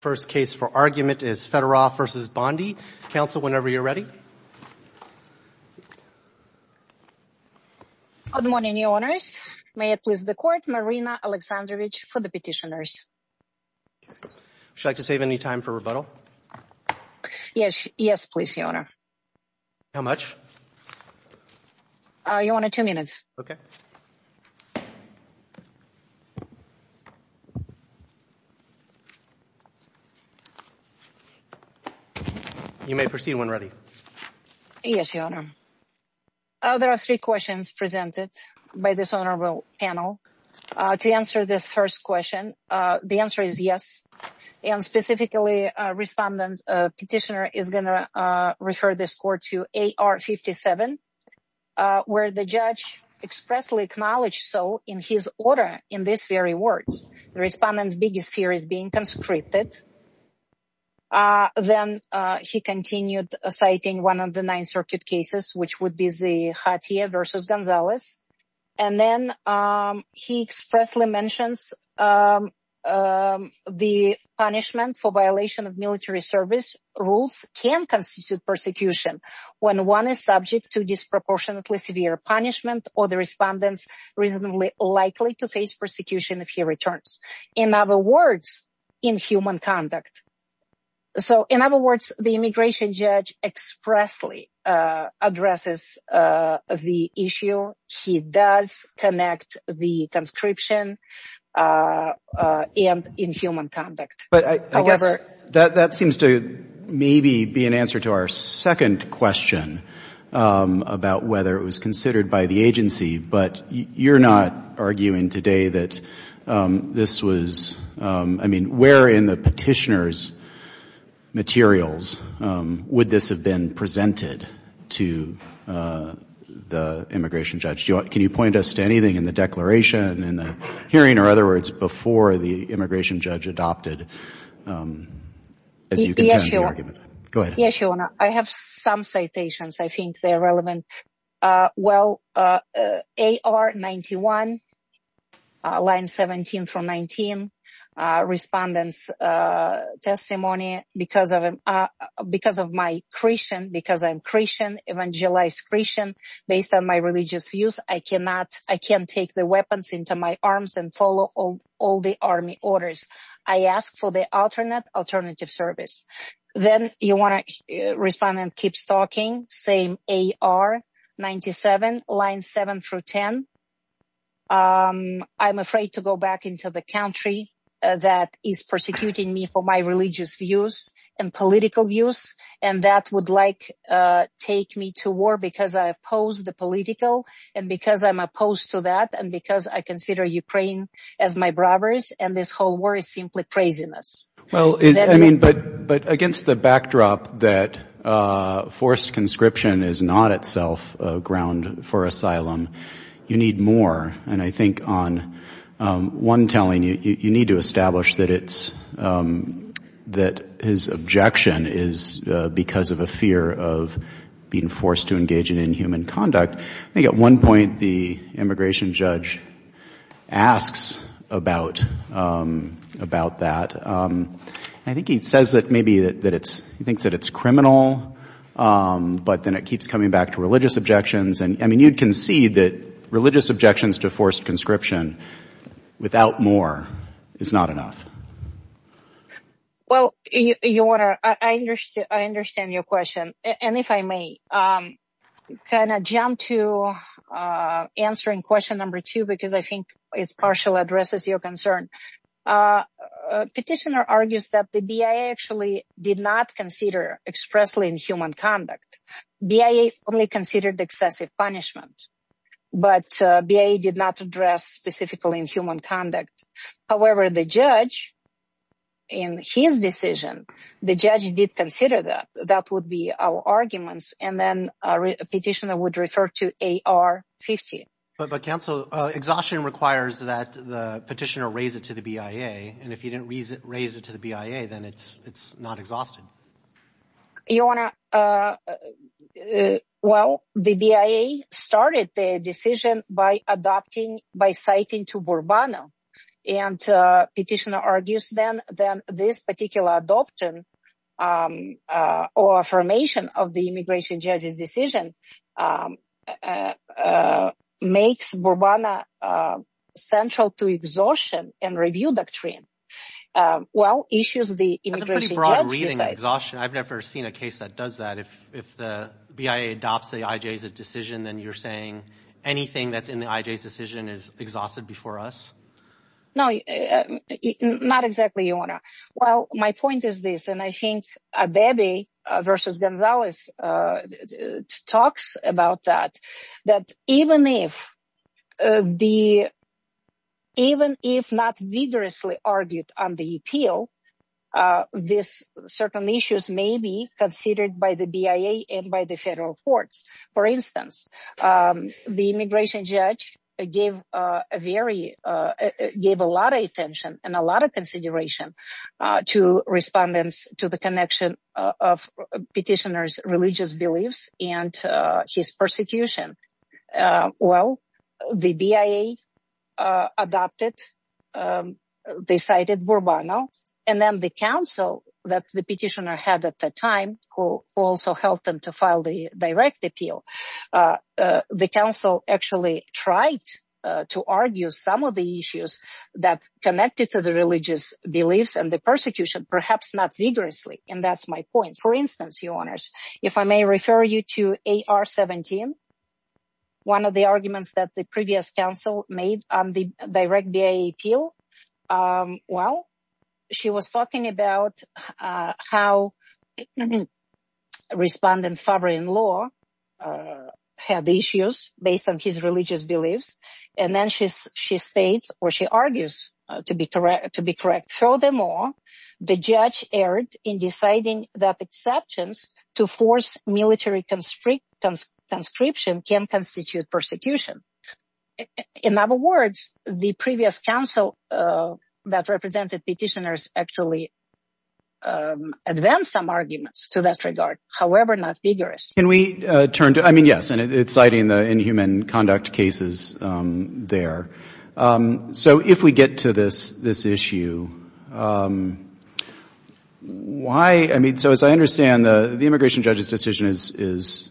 First case for argument is Fedorov v. Bondi. Counsel, whenever you're ready. Good morning, Your Honors. May I please the court? Marina Alexandrovich for the petitioners. Would you like to save any time for rebuttal? Yes, please, Your Honor. How much? Your Honor, two minutes. Okay. You may proceed when ready. Yes, Your Honor. There are three questions presented by this honorable panel. To answer this first question, the answer is yes. And specifically, a respondent petitioner is going to refer this court to AR-57, where the judge expressly acknowledged so in his order in these very words. The respondent's biggest fear is being conscripted. Then he continued citing one of the nine circuit cases, which would be the Khatia v. Gonzalez. And then he expressly mentions the punishment for violation of military service rules can constitute persecution when one is subject to disproportionately severe punishment or the respondent is likely to face persecution if he returns. In other words, inhuman conduct. So in other words, the immigration judge expressly addresses the issue. He does connect the conscription and inhuman conduct. That seems to maybe be an answer to our second question about whether it was considered by the agency. But you're not arguing today that this was, I mean, where in the petitioner's materials would this have been presented to the immigration judge? Can you point us to anything in the declaration, in the hearing, in other words, before the immigration judge adopted as you contend the argument? Yes, Your Honor. I have some citations. I think they're relevant. Well, AR-91, line 17 from 19, respondent's testimony, because of my Christian, because I'm Christian, evangelized Christian, based on my religious views, I cannot, I can't take the weapons into my arms and follow all the army orders. I ask for the alternate alternative service. Then you want to respond and keep talking, same AR-97, line 7 through 10. I'm afraid to go back into the country that is persecuting me for my religious views and political views. And that would like take me to war because I oppose the political and because I'm opposed to that and because I consider Ukraine as my braveries and this whole war is simply craziness. Well, I mean, but against the backdrop that forced conscription is not itself a ground for asylum, you need more. And I think on one telling, you need to establish that it's, that his objection is because of a fear of being forced to engage in inhuman conduct. I think at one point the immigration judge asks about that. I think he says that maybe that it's, he thinks that it's criminal, but then it keeps coming back to religious objections. And I mean, you'd concede that religious objections to forced conscription without more is not enough. Well, you want to, I understand your question. And if I may kind of jump to answering question number two, because I think it's partial addresses your concern. Petitioner argues that the BIA actually did not consider expressly inhuman conduct. BIA only considered excessive punishment, but BIA did not address specifically inhuman conduct. However, the judge in his decision, the judge did consider that that would be our arguments. And then a petitioner would refer to AR-50. But counsel, exhaustion requires that the petitioner raise it to the BIA. And if you didn't raise it to the BIA, then it's not exhausted. You want to, well, the BIA started the decision by adopting, by citing to Bourbano. And petitioner argues then that this particular adoption or affirmation of the immigration judge's decision makes Bourbano central to exhaustion and review doctrine. Well, issues the immigration judge decides. That's a pretty broad reading, exhaustion. I've never seen a case that does that. If the BIA adopts the IJ's decision, then you're saying anything that's in the IJ's decision is exhausted before us? No, not exactly, Ioana. Well, my point is this, and I think Abebe versus Gonzalez talks about that, that even if not vigorously argued on the appeal, this certain issues may be considered by the BIA and by the federal courts. For instance, the immigration judge gave a lot of attention and a lot of consideration to respondents to the connection of petitioner's religious beliefs and his persecution. Well, the BIA adopted, they cited Bourbano, and then the council that the petitioner had at the time, who also helped them to file the direct appeal, the council actually tried to argue some of the issues that connected to the religious beliefs and the persecution, perhaps not vigorously. And that's my point. For instance, Ioana, if I may refer you to AR-17, one of the arguments that the previous council made on the direct BIA appeal, well, she was talking about how respondents favoring law had issues based on his religious beliefs, and then she states or she argues to be correct. Furthermore, the judge erred in deciding that exceptions to force military conscription can constitute persecution. In other words, the previous council that represented petitioners actually advanced some arguments to that regard, however not vigorous. Can we turn to, I mean, yes, and it's citing the inhuman conduct cases there. So if we get to this issue, why, I mean, so as I understand, the immigration judge's decision is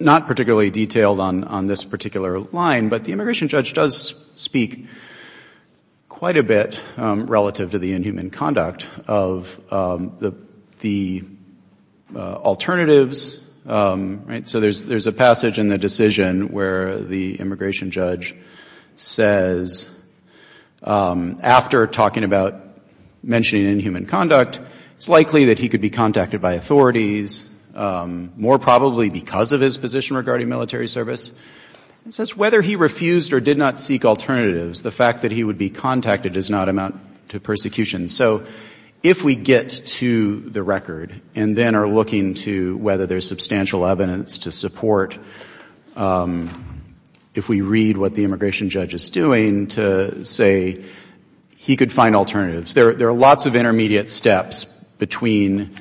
not particularly detailed on this particular line, but the immigration judge does speak quite a bit relative to the inhuman conduct of the alternatives, right? So there's a passage in the decision where the immigration judge says, after talking about mentioning inhuman conduct, it's likely that he could be contacted by authorities, more probably because of his position regarding military service. It says whether he refused or did not seek alternatives, the fact that he would be contacted does not amount to persecution. So if we get to the record and then are looking to whether there's substantial evidence to support, if we read what the immigration judge is doing to say he could find alternatives, there are lots of intermediate steps between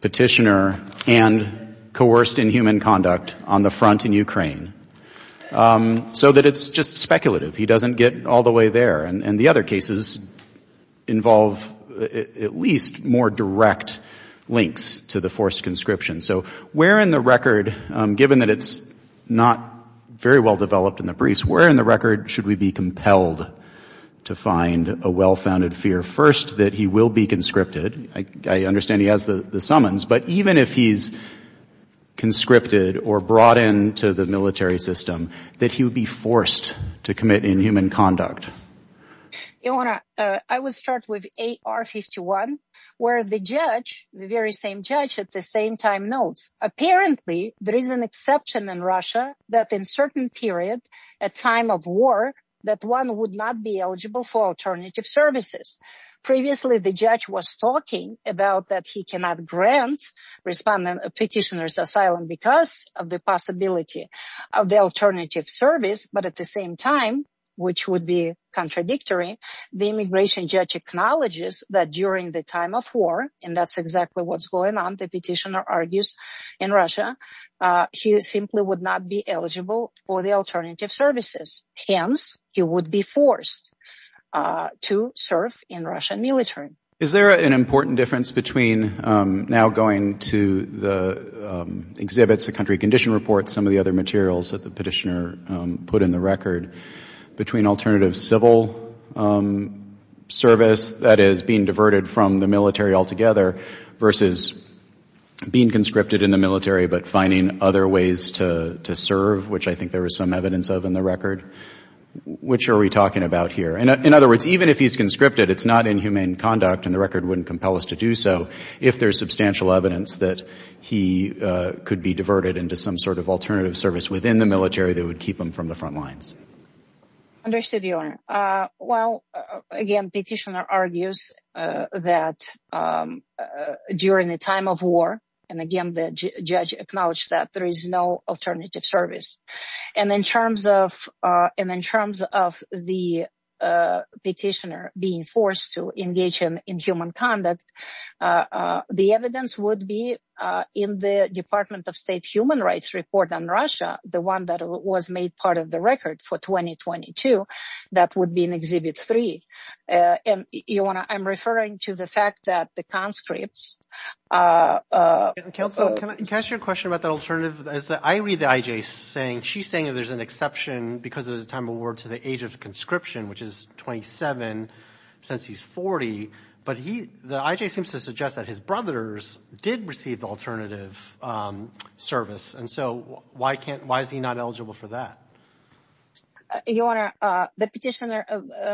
petitioner and coerced inhuman conduct on the front in Ukraine, so that it's just speculative. He doesn't get all the way there. And the other cases involve at least more direct links to the forced conscription. So where in the record, given that it's not very well developed in the briefs, where in the record should we be compelled to find a well-founded fear? First, that he will be conscripted. I understand he has the summons. But even if he's conscripted or brought into the military system, that he would be forced to commit inhuman conduct. Ioanna, I will start with AR-51, where the judge, the very same judge at the same time notes, apparently there is an exception in Russia that in certain period, a time of war, that one would not be eligible for alternative services. Previously, the judge was talking about that he cannot grant respondent a petitioner's asylum because of the possibility of the alternative service, but at the same time, which would be contradictory, the immigration judge acknowledges that during the time of war, and that's exactly what's going on, the petitioner argues, in Russia, he simply would not be eligible for the alternative services. Hence, he would be forced to serve in Russian military. Is there an important difference between now going to the exhibits, the country condition report, some of the other materials that the petitioner put in the record, between alternative civil service, that is being diverted from the military altogether, versus being conscripted in the military but finding other ways to serve, which I think there is some evidence of in the record? Which are we talking about here? In other words, even if he's conscripted, it's not inhumane conduct, and the record wouldn't compel us to do so, if there's substantial evidence that he could be diverted into some sort of alternative service within the military that would keep him from the front lines. Understood, Your Honor. Well, again, petitioner argues that during the time of war, and again, the judge acknowledged that there is no alternative service. And in terms of the petitioner being forced to engage in inhumane conduct, the evidence would be in the Department of State Human Rights report on Russia, the one that was made part of the record for 2022, that would be in Exhibit 3. And, Your Honor, I'm referring to the fact that the conscripts… Counsel, can I ask you a question about that alternative? I read the IJ saying she's saying there's an exception because it was a time of war to the age of conscription, which is 27, since he's 40. But the IJ seems to suggest that his brothers did receive the alternative service. And so why is he not eligible for that? Your Honor, the petitioner…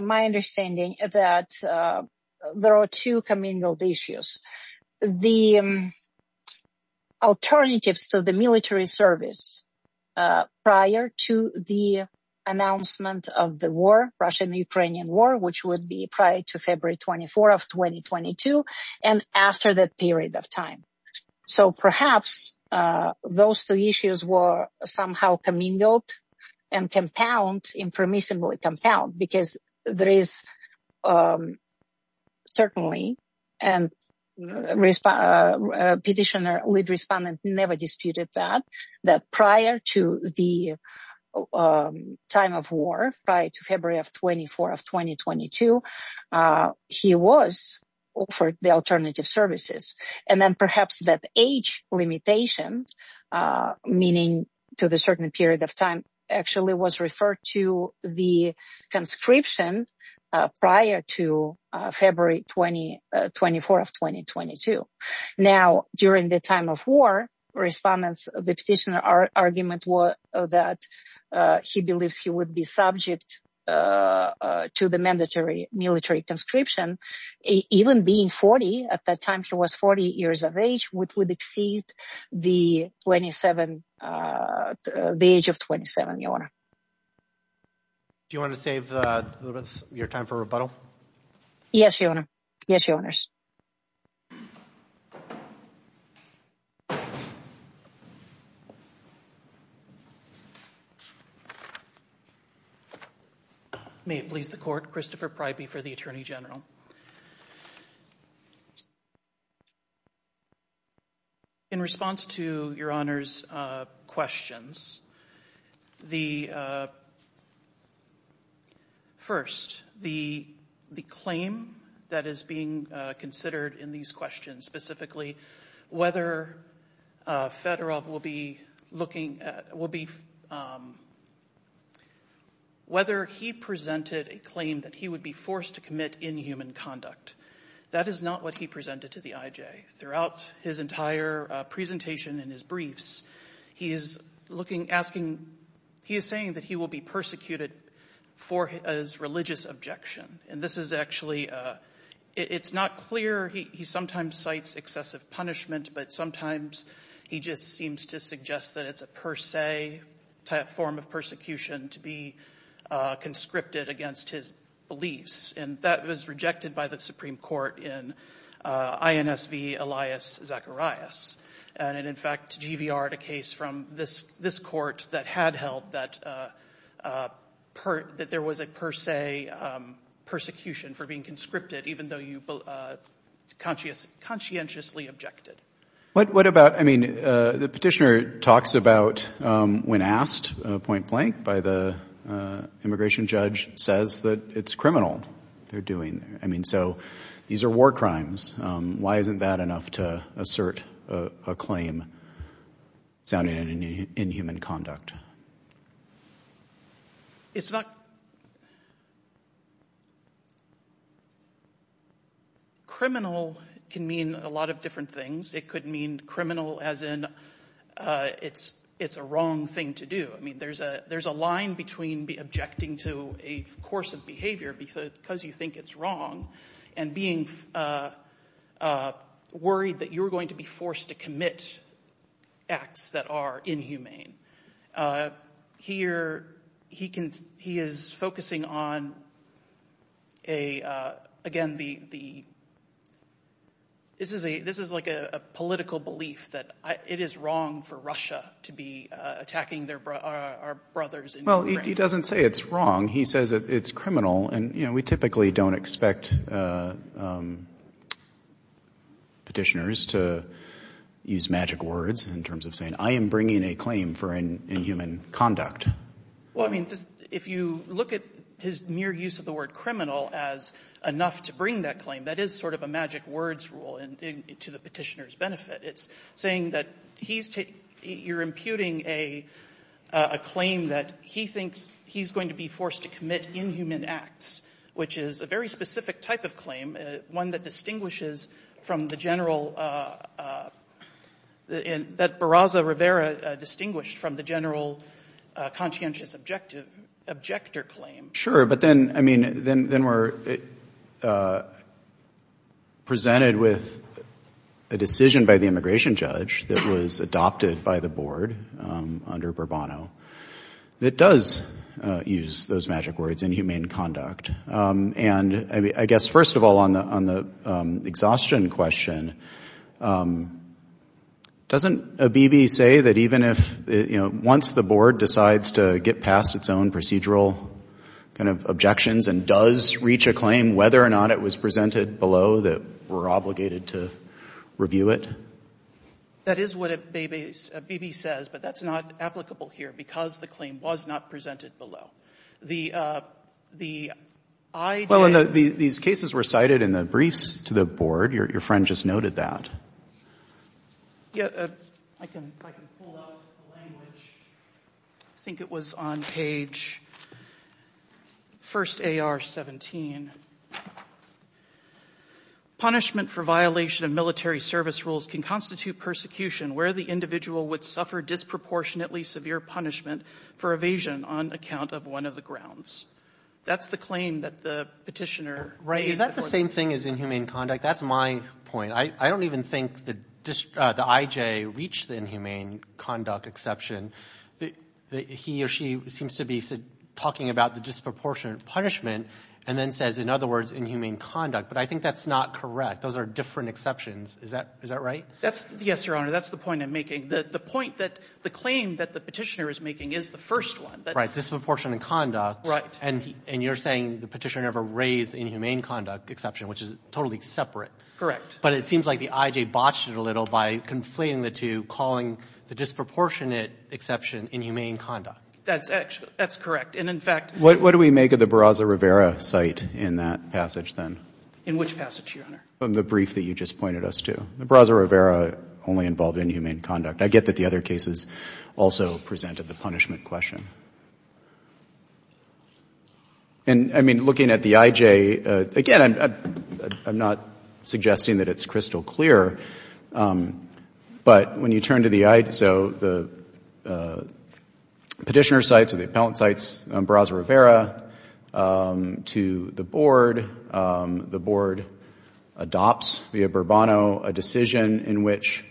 My understanding is that there are two commingled issues. The alternatives to the military service prior to the announcement of the war, Russian-Ukrainian war, which would be prior to February 24 of 2022 and after that period of time. So perhaps those two issues were somehow commingled and compounded, impermissibly compounded, because there is certainly, and petitioner, lead respondent never disputed that, that prior to the time of war, prior to February 24 of 2022, he was offered the alternative services. And then perhaps that age limitation, meaning to the certain period of time, actually was referred to the conscription prior to February 24 of 2022. Now, during the time of war, respondents… The petitioner's argument was that he believes he would be subject to the mandatory military conscription, even being 40. At that time, he was 40 years of age, which would exceed the age of 27, Your Honor. Do you want to save your time for rebuttal? Yes, Your Honor. Yes, Your Honors. May it please the Court. Christopher Pryby for the Attorney General. In response to Your Honor's questions, the… First, the claim that is being considered in these questions, specifically whether Fedorov will be looking at… whether he presented a claim that he would be forced to commit inhuman conduct. That is not what he presented to the IJ. Throughout his entire presentation and his briefs, he is looking… asking… he is saying that he will be persecuted for his religious objection. And this is actually… it's not clear. He sometimes cites excessive punishment, but sometimes he just seems to suggest that it's a per se type form of persecution to be conscripted against his beliefs. And that was rejected by the Supreme Court in INSV Elias Zacharias. And in fact, GVR had a case from this court that had held that… that there was a per se persecution for being conscripted, even though you conscientiously objected. What about… I mean, the petitioner talks about when asked, point blank, by the immigration judge, says that it's criminal they're doing. I mean, so these are war crimes. Why isn't that enough to assert a claim sounding in inhuman conduct? It's not… criminal can mean a lot of different things. It could mean criminal as in it's a wrong thing to do. I mean, there's a line between objecting to a course of behavior because you think it's wrong and being worried that you're going to be forced to commit acts that are inhumane. Here he is focusing on, again, the… this is like a political belief that it is wrong for Russia to be attacking our brothers. Well, he doesn't say it's wrong. He says it's criminal, and we typically don't expect petitioners to use magic words in terms of saying I am bringing a claim for inhuman conduct. Well, I mean, if you look at his mere use of the word criminal as enough to bring that claim, that is sort of a magic words rule to the petitioner's benefit. It's saying that you're imputing a claim that he thinks he's going to be forced to commit inhuman acts, which is a very specific type of claim, one that distinguishes from the general… that Barraza Rivera distinguished from the general conscientious objector claim. Sure, but then, I mean, then we're presented with a decision by the immigration judge that was adopted by the board under Bourbono that does use those magic words inhumane conduct. And I guess, first of all, on the exhaustion question, doesn't a B.B. say that even if, you know, once the board decides to get past its own procedural kind of objections and does reach a claim, whether or not it was presented below, that we're obligated to review it? That is what a B.B. says, but that's not applicable here because the claim was not presented below. The idea… Well, and these cases were cited in the briefs to the board. Your friend just noted that. Yeah, I can pull up the language. I think it was on page 1st AR 17. Punishment for violation of military service rules can constitute persecution where the individual would suffer disproportionately severe punishment for evasion on account of one of the grounds. That's the claim that the Petitioner raised. Is that the same thing as inhumane conduct? That's my point. I don't even think the I.J. reached the inhumane conduct exception. He or she seems to be talking about the disproportionate punishment and then says, in other words, inhumane conduct. But I think that's not correct. Those are different exceptions. Is that right? Yes, Your Honor. That's the point I'm making. The point that the claim that the Petitioner is making is the first one. Right. Disproportionate conduct. Right. And you're saying the Petitioner never raised inhumane conduct exception, which is totally separate. Correct. But it seems like the I.J. botched it a little by conflating the two, calling the disproportionate exception inhumane conduct. That's correct. And, in fact… What do we make of the Barraza-Rivera site in that passage then? In which passage, Your Honor? From the brief that you just pointed us to. The Barraza-Rivera only involved inhumane conduct. I get that the other cases also presented the punishment question. And, I mean, looking at the I.J., again, I'm not suggesting that it's crystal clear, but when you turn to the I.J., so the Petitioner sites or the Appellant sites, Barraza-Rivera, to the Board, the Board adopts via Bourbano a decision in which,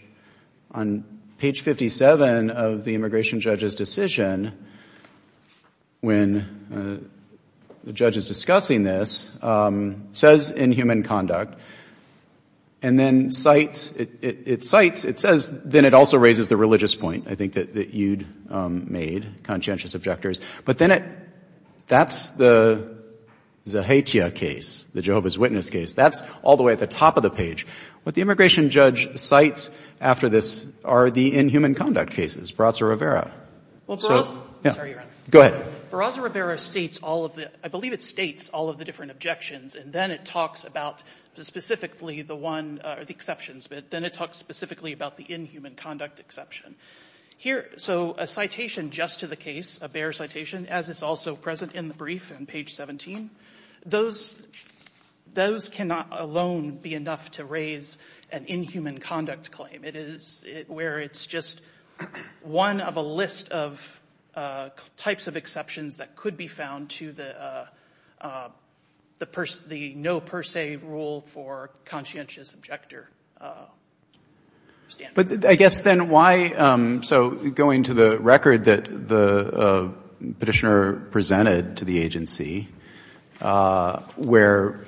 on page 57 of the immigration judge's decision, when the judge is discussing this, says inhumane conduct, and then cites, it cites, it says, then it also raises the religious point, I think, that you'd made, conscientious objectors. But then it, that's the Zahetia case, the Jehovah's Witness case. That's all the way at the top of the page. What the immigration judge cites after this are the inhuman conduct cases, Barraza-Rivera. Well, Barraza… I'm sorry, Your Honor. Go ahead. Barraza-Rivera states all of the, I believe it states all of the different objections, and then it talks about specifically the one, or the exceptions, but then it talks specifically about the inhuman conduct exception. Here, so a citation just to the case, a bare citation, as is also present in the brief on page 17, those cannot alone be enough to raise an inhuman conduct claim. It is where it's just one of a list of types of exceptions that could be found to the no per se rule for conscientious objector standards. But I guess then why, so going to the record that the Petitioner presented to the agency, where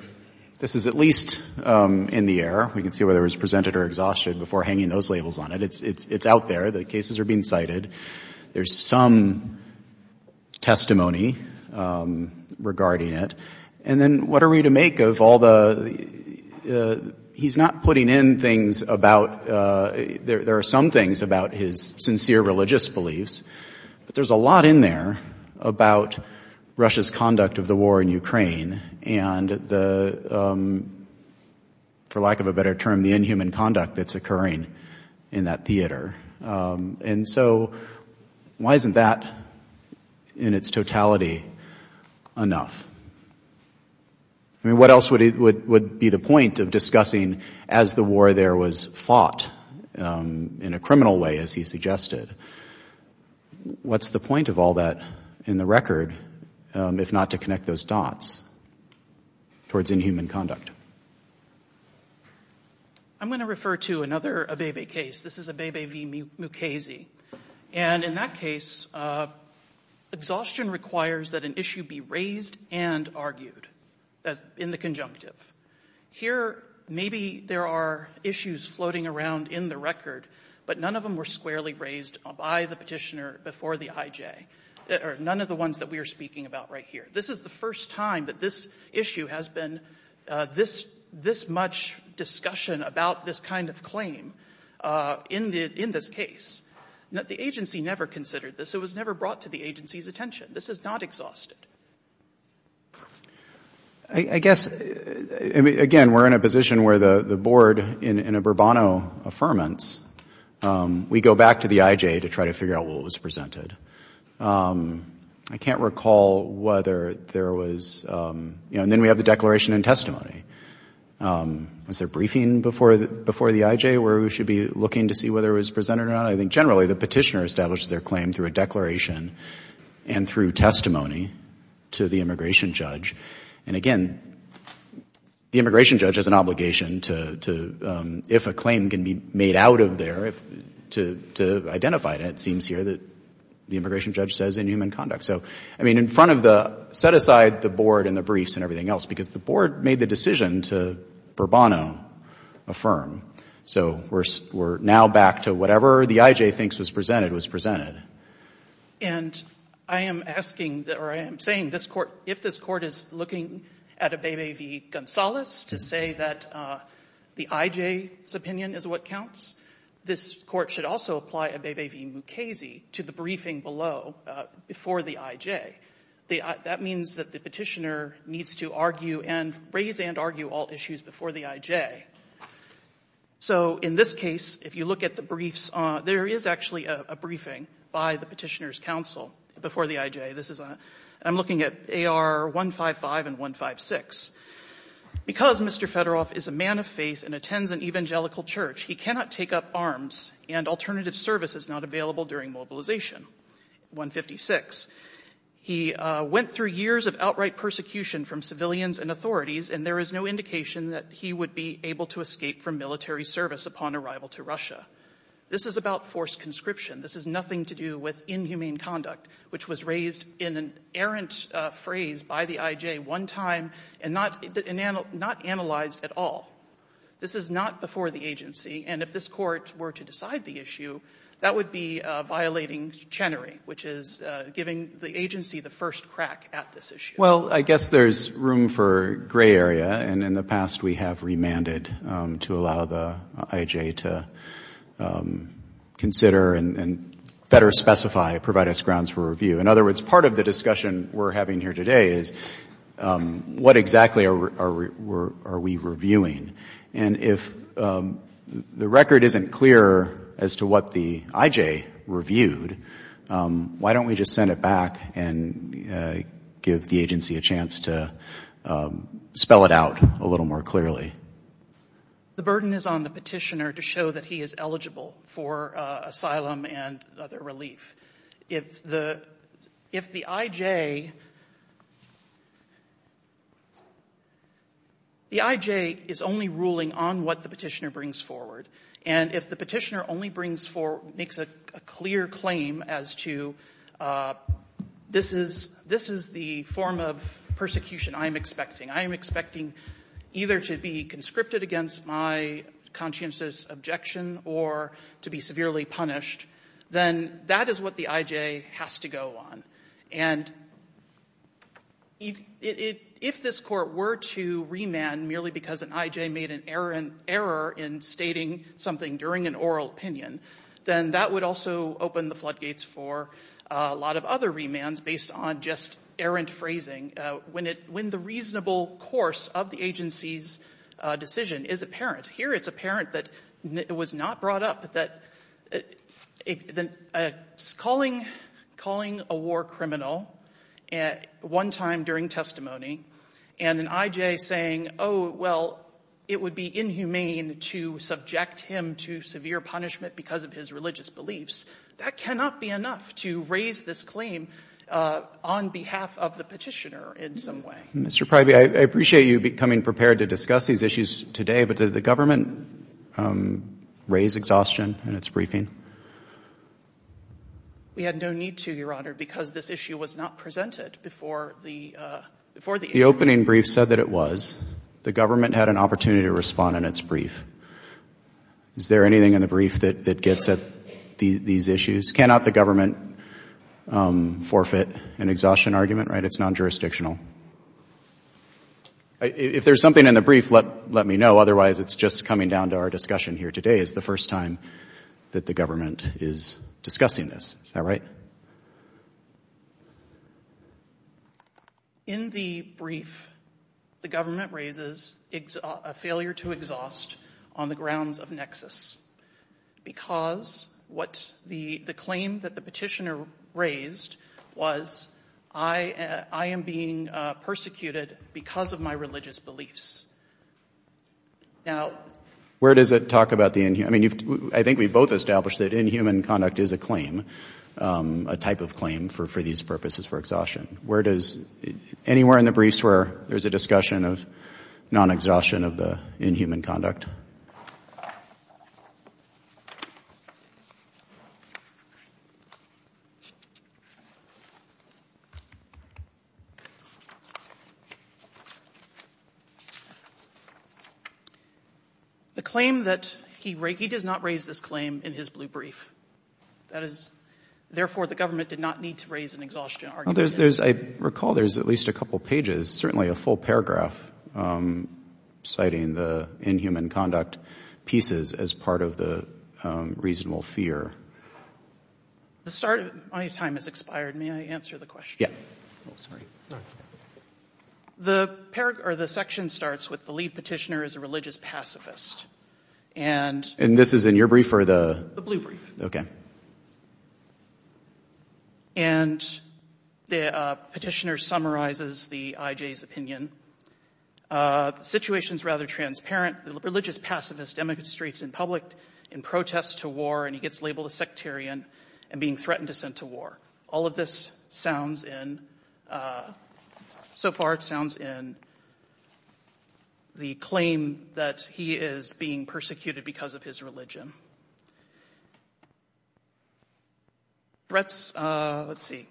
this is at least in the air, we can see whether it was presented or exhausted before hanging those labels on it. It's out there. The cases are being cited. There's some testimony regarding it. And then what are we to make of all the, he's not putting in things about, there are some things about his sincere religious beliefs, but there's a lot in there about Russia's conduct of the war in Ukraine, and the, for lack of a better term, the inhuman conduct that's occurring in that theater. And so why isn't that in its totality enough? I mean, what else would be the point of discussing as the war there was fought in a criminal way, as he suggested? What's the point of all that in the record, if not to connect those dots towards inhuman conduct? I'm going to refer to another Abebe case. This is Abebe v. Mukasey. And in that case, exhaustion requires that an issue be raised and argued in the conjunctive. Here, maybe there are issues floating around in the record, but none of them were squarely raised by the Petitioner before the IJ, or none of the ones that we are speaking about right here. This is the first time that this issue has been this much discussion about this kind of claim in this case. The agency never considered this. It was never brought to the agency's attention. This is not exhausted. I guess, again, we're in a position where the board, in a Bourbonno Affirmance, we go back to the IJ to try to figure out what was presented. I can't recall whether there was, you know, and then we have the declaration and testimony. Was there briefing before the IJ where we should be looking to see whether it was presented or not? I think, generally, the Petitioner established their claim through a declaration and through testimony to the immigration judge. And, again, the immigration judge has an obligation to, if a claim can be made out of there, to identify it, and it seems here that the immigration judge says in human conduct. So, I mean, in front of the – set aside the board and the briefs and everything else, because the board made the decision to Bourbonno Affirm. So we're now back to whatever the IJ thinks was presented was presented. And I am asking, or I am saying, if this Court is looking at Abebe v. Gonzales to say that the IJ's opinion is what counts, this Court should also apply Abebe v. Mukasey to the briefing below before the IJ. That means that the Petitioner needs to argue and raise and argue all issues before the IJ. So in this case, if you look at the briefs, there is actually a briefing by the Petitioner's counsel before the IJ. This is a – I'm looking at AR 155 and 156. Because Mr. Fedorov is a man of faith and attends an evangelical church, he cannot take up arms and alternative service is not available during mobilization. 156. He went through years of outright persecution from civilians and authorities, and there is no indication that he would be able to escape from military service upon arrival to Russia. This is about forced conscription. This is nothing to do with inhumane conduct, which was raised in an errant phrase by the IJ one time and not analyzed at all. This is not before the agency. And if this Court were to decide the issue, that would be violating Chenery, which is giving the agency the first crack at this issue. Well, I guess there's room for gray area, and in the past we have remanded to allow the IJ to consider and better specify, provide us grounds for review. In other words, part of the discussion we're having here today is what exactly are we reviewing? And if the record isn't clear as to what the IJ reviewed, why don't we just send it back and give the agency a chance to spell it out a little more clearly? The burden is on the petitioner to show that he is eligible for asylum and other relief. If the IJ is only ruling on what the petitioner brings forward, and if the petitioner makes a clear claim as to this is the form of persecution I am expecting, I am expecting either to be conscripted against my conscientious objection or to be severely punished, then that is what the IJ has to go on. And if this Court were to remand merely because an IJ made an error in stating something during an oral opinion, then that would also open the floodgates for a lot of other remands based on just errant phrasing when the reasonable course of the agency's decision is apparent. Here it's apparent that it was not brought up that calling a war criminal one time during testimony and an IJ saying, oh, well, it would be inhumane to subject him to severe punishment because of his religious beliefs, that cannot be enough to raise this claim on behalf of the petitioner in some way. Mr. Pryby, I appreciate you becoming prepared to discuss these issues today, but did the government raise exhaustion in its briefing? We had no need to, Your Honor, because this issue was not presented before the agency. The opening brief said that it was. The government had an opportunity to respond in its brief. Is there anything in the brief that gets at these issues? Cannot the government forfeit an exhaustion argument, right? It's non-jurisdictional. If there's something in the brief, let me know. Otherwise, it's just coming down to our discussion here. Today is the first time that the government is discussing this. Is that right? In the brief, the government raises a failure to exhaust on the grounds of nexus because the claim that the petitioner raised was, I am being persecuted because of my religious beliefs. Now, where does it talk about the inhumane? I mean, I think we've both established that inhuman conduct is a claim, a type of claim for these purposes for exhaustion. Anywhere in the briefs where there's a discussion of non-exhaustion of the inhuman conduct? The claim that he does not raise this claim in his blue brief, that is, therefore, the government did not need to raise an exhaustion argument. I recall there's at least a couple pages, certainly a full paragraph, citing the inhuman conduct pieces as part of the reasonable fear. My time has expired. May I answer the question? Oh, sorry. The section starts with the lead petitioner is a religious pacifist. And this is in your brief or the? The blue brief. And the petitioner summarizes the IJ's opinion. The situation is rather transparent. The religious pacifist demonstrates in public in protest to war, and he gets labeled a sectarian and being threatened to send to war. All of this sounds in, so far it sounds in, the claim that he is being persecuted because of his religion. Threats, let's see.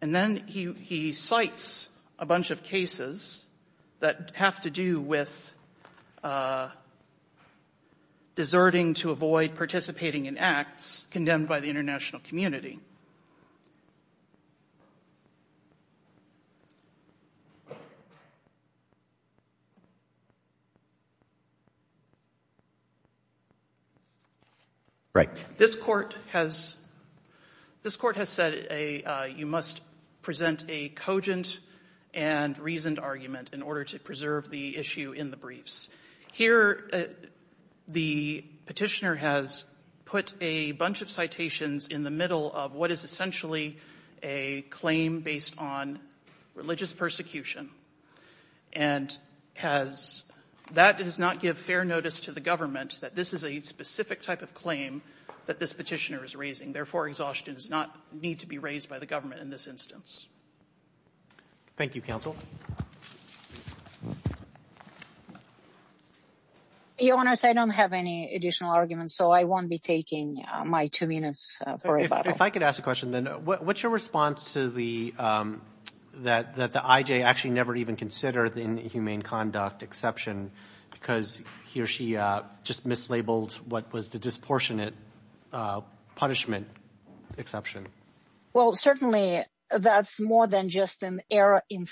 And then he cites a bunch of cases that have to do with deserting to avoid participating in acts condemned by the international community. Right. This court has said you must present a cogent and reasoned argument in order to preserve the issue in the briefs. Here, the petitioner has put a bunch of citations in the middle of what is essentially a claim based on religious persecution. And that does not give fair notice to the government that this is a specific type of claim that this petitioner is raising. Therefore, exhaustion does not need to be raised by the government in this instance. Thank you, counsel. Your Honor, I don't have any additional arguments, so I won't be taking my two minutes for rebuttal. If I could ask a question, then. What's your response to the, that the IJ actually never even considered an inhumane conduct exception because he or she just mislabeled what was the disproportionate punishment exception? Well, certainly that's more than just an error in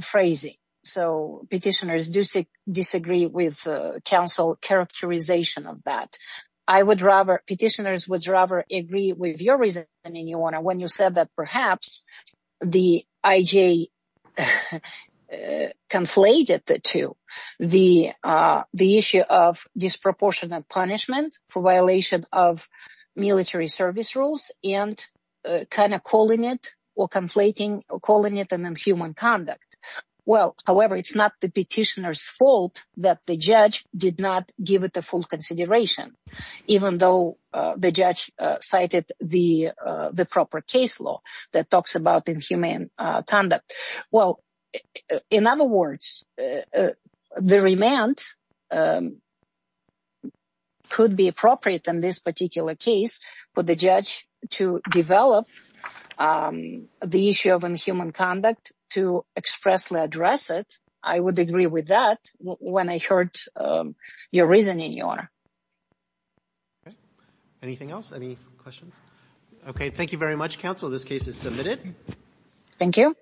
phrasing. So petitioners do disagree with counsel characterization of that. I would rather, petitioners would rather agree with your reasoning, Your Honor, when you said that perhaps the IJ conflated the two, the issue of disproportionate punishment for violation of military service rules and kind of calling it or conflating or calling it an inhuman conduct. Well, however, it's not the petitioner's fault that the judge did not give it the full consideration, even though the judge cited the proper case law that talks about inhumane conduct. Well, in other words, the remand could be appropriate in this particular case for the judge to develop the issue of inhuman conduct to expressly address it. I would agree with that when I heard your reasoning, Your Honor. Okay. Anything else? Any questions? Okay. Thank you very much, counsel. This case is submitted. Thank you.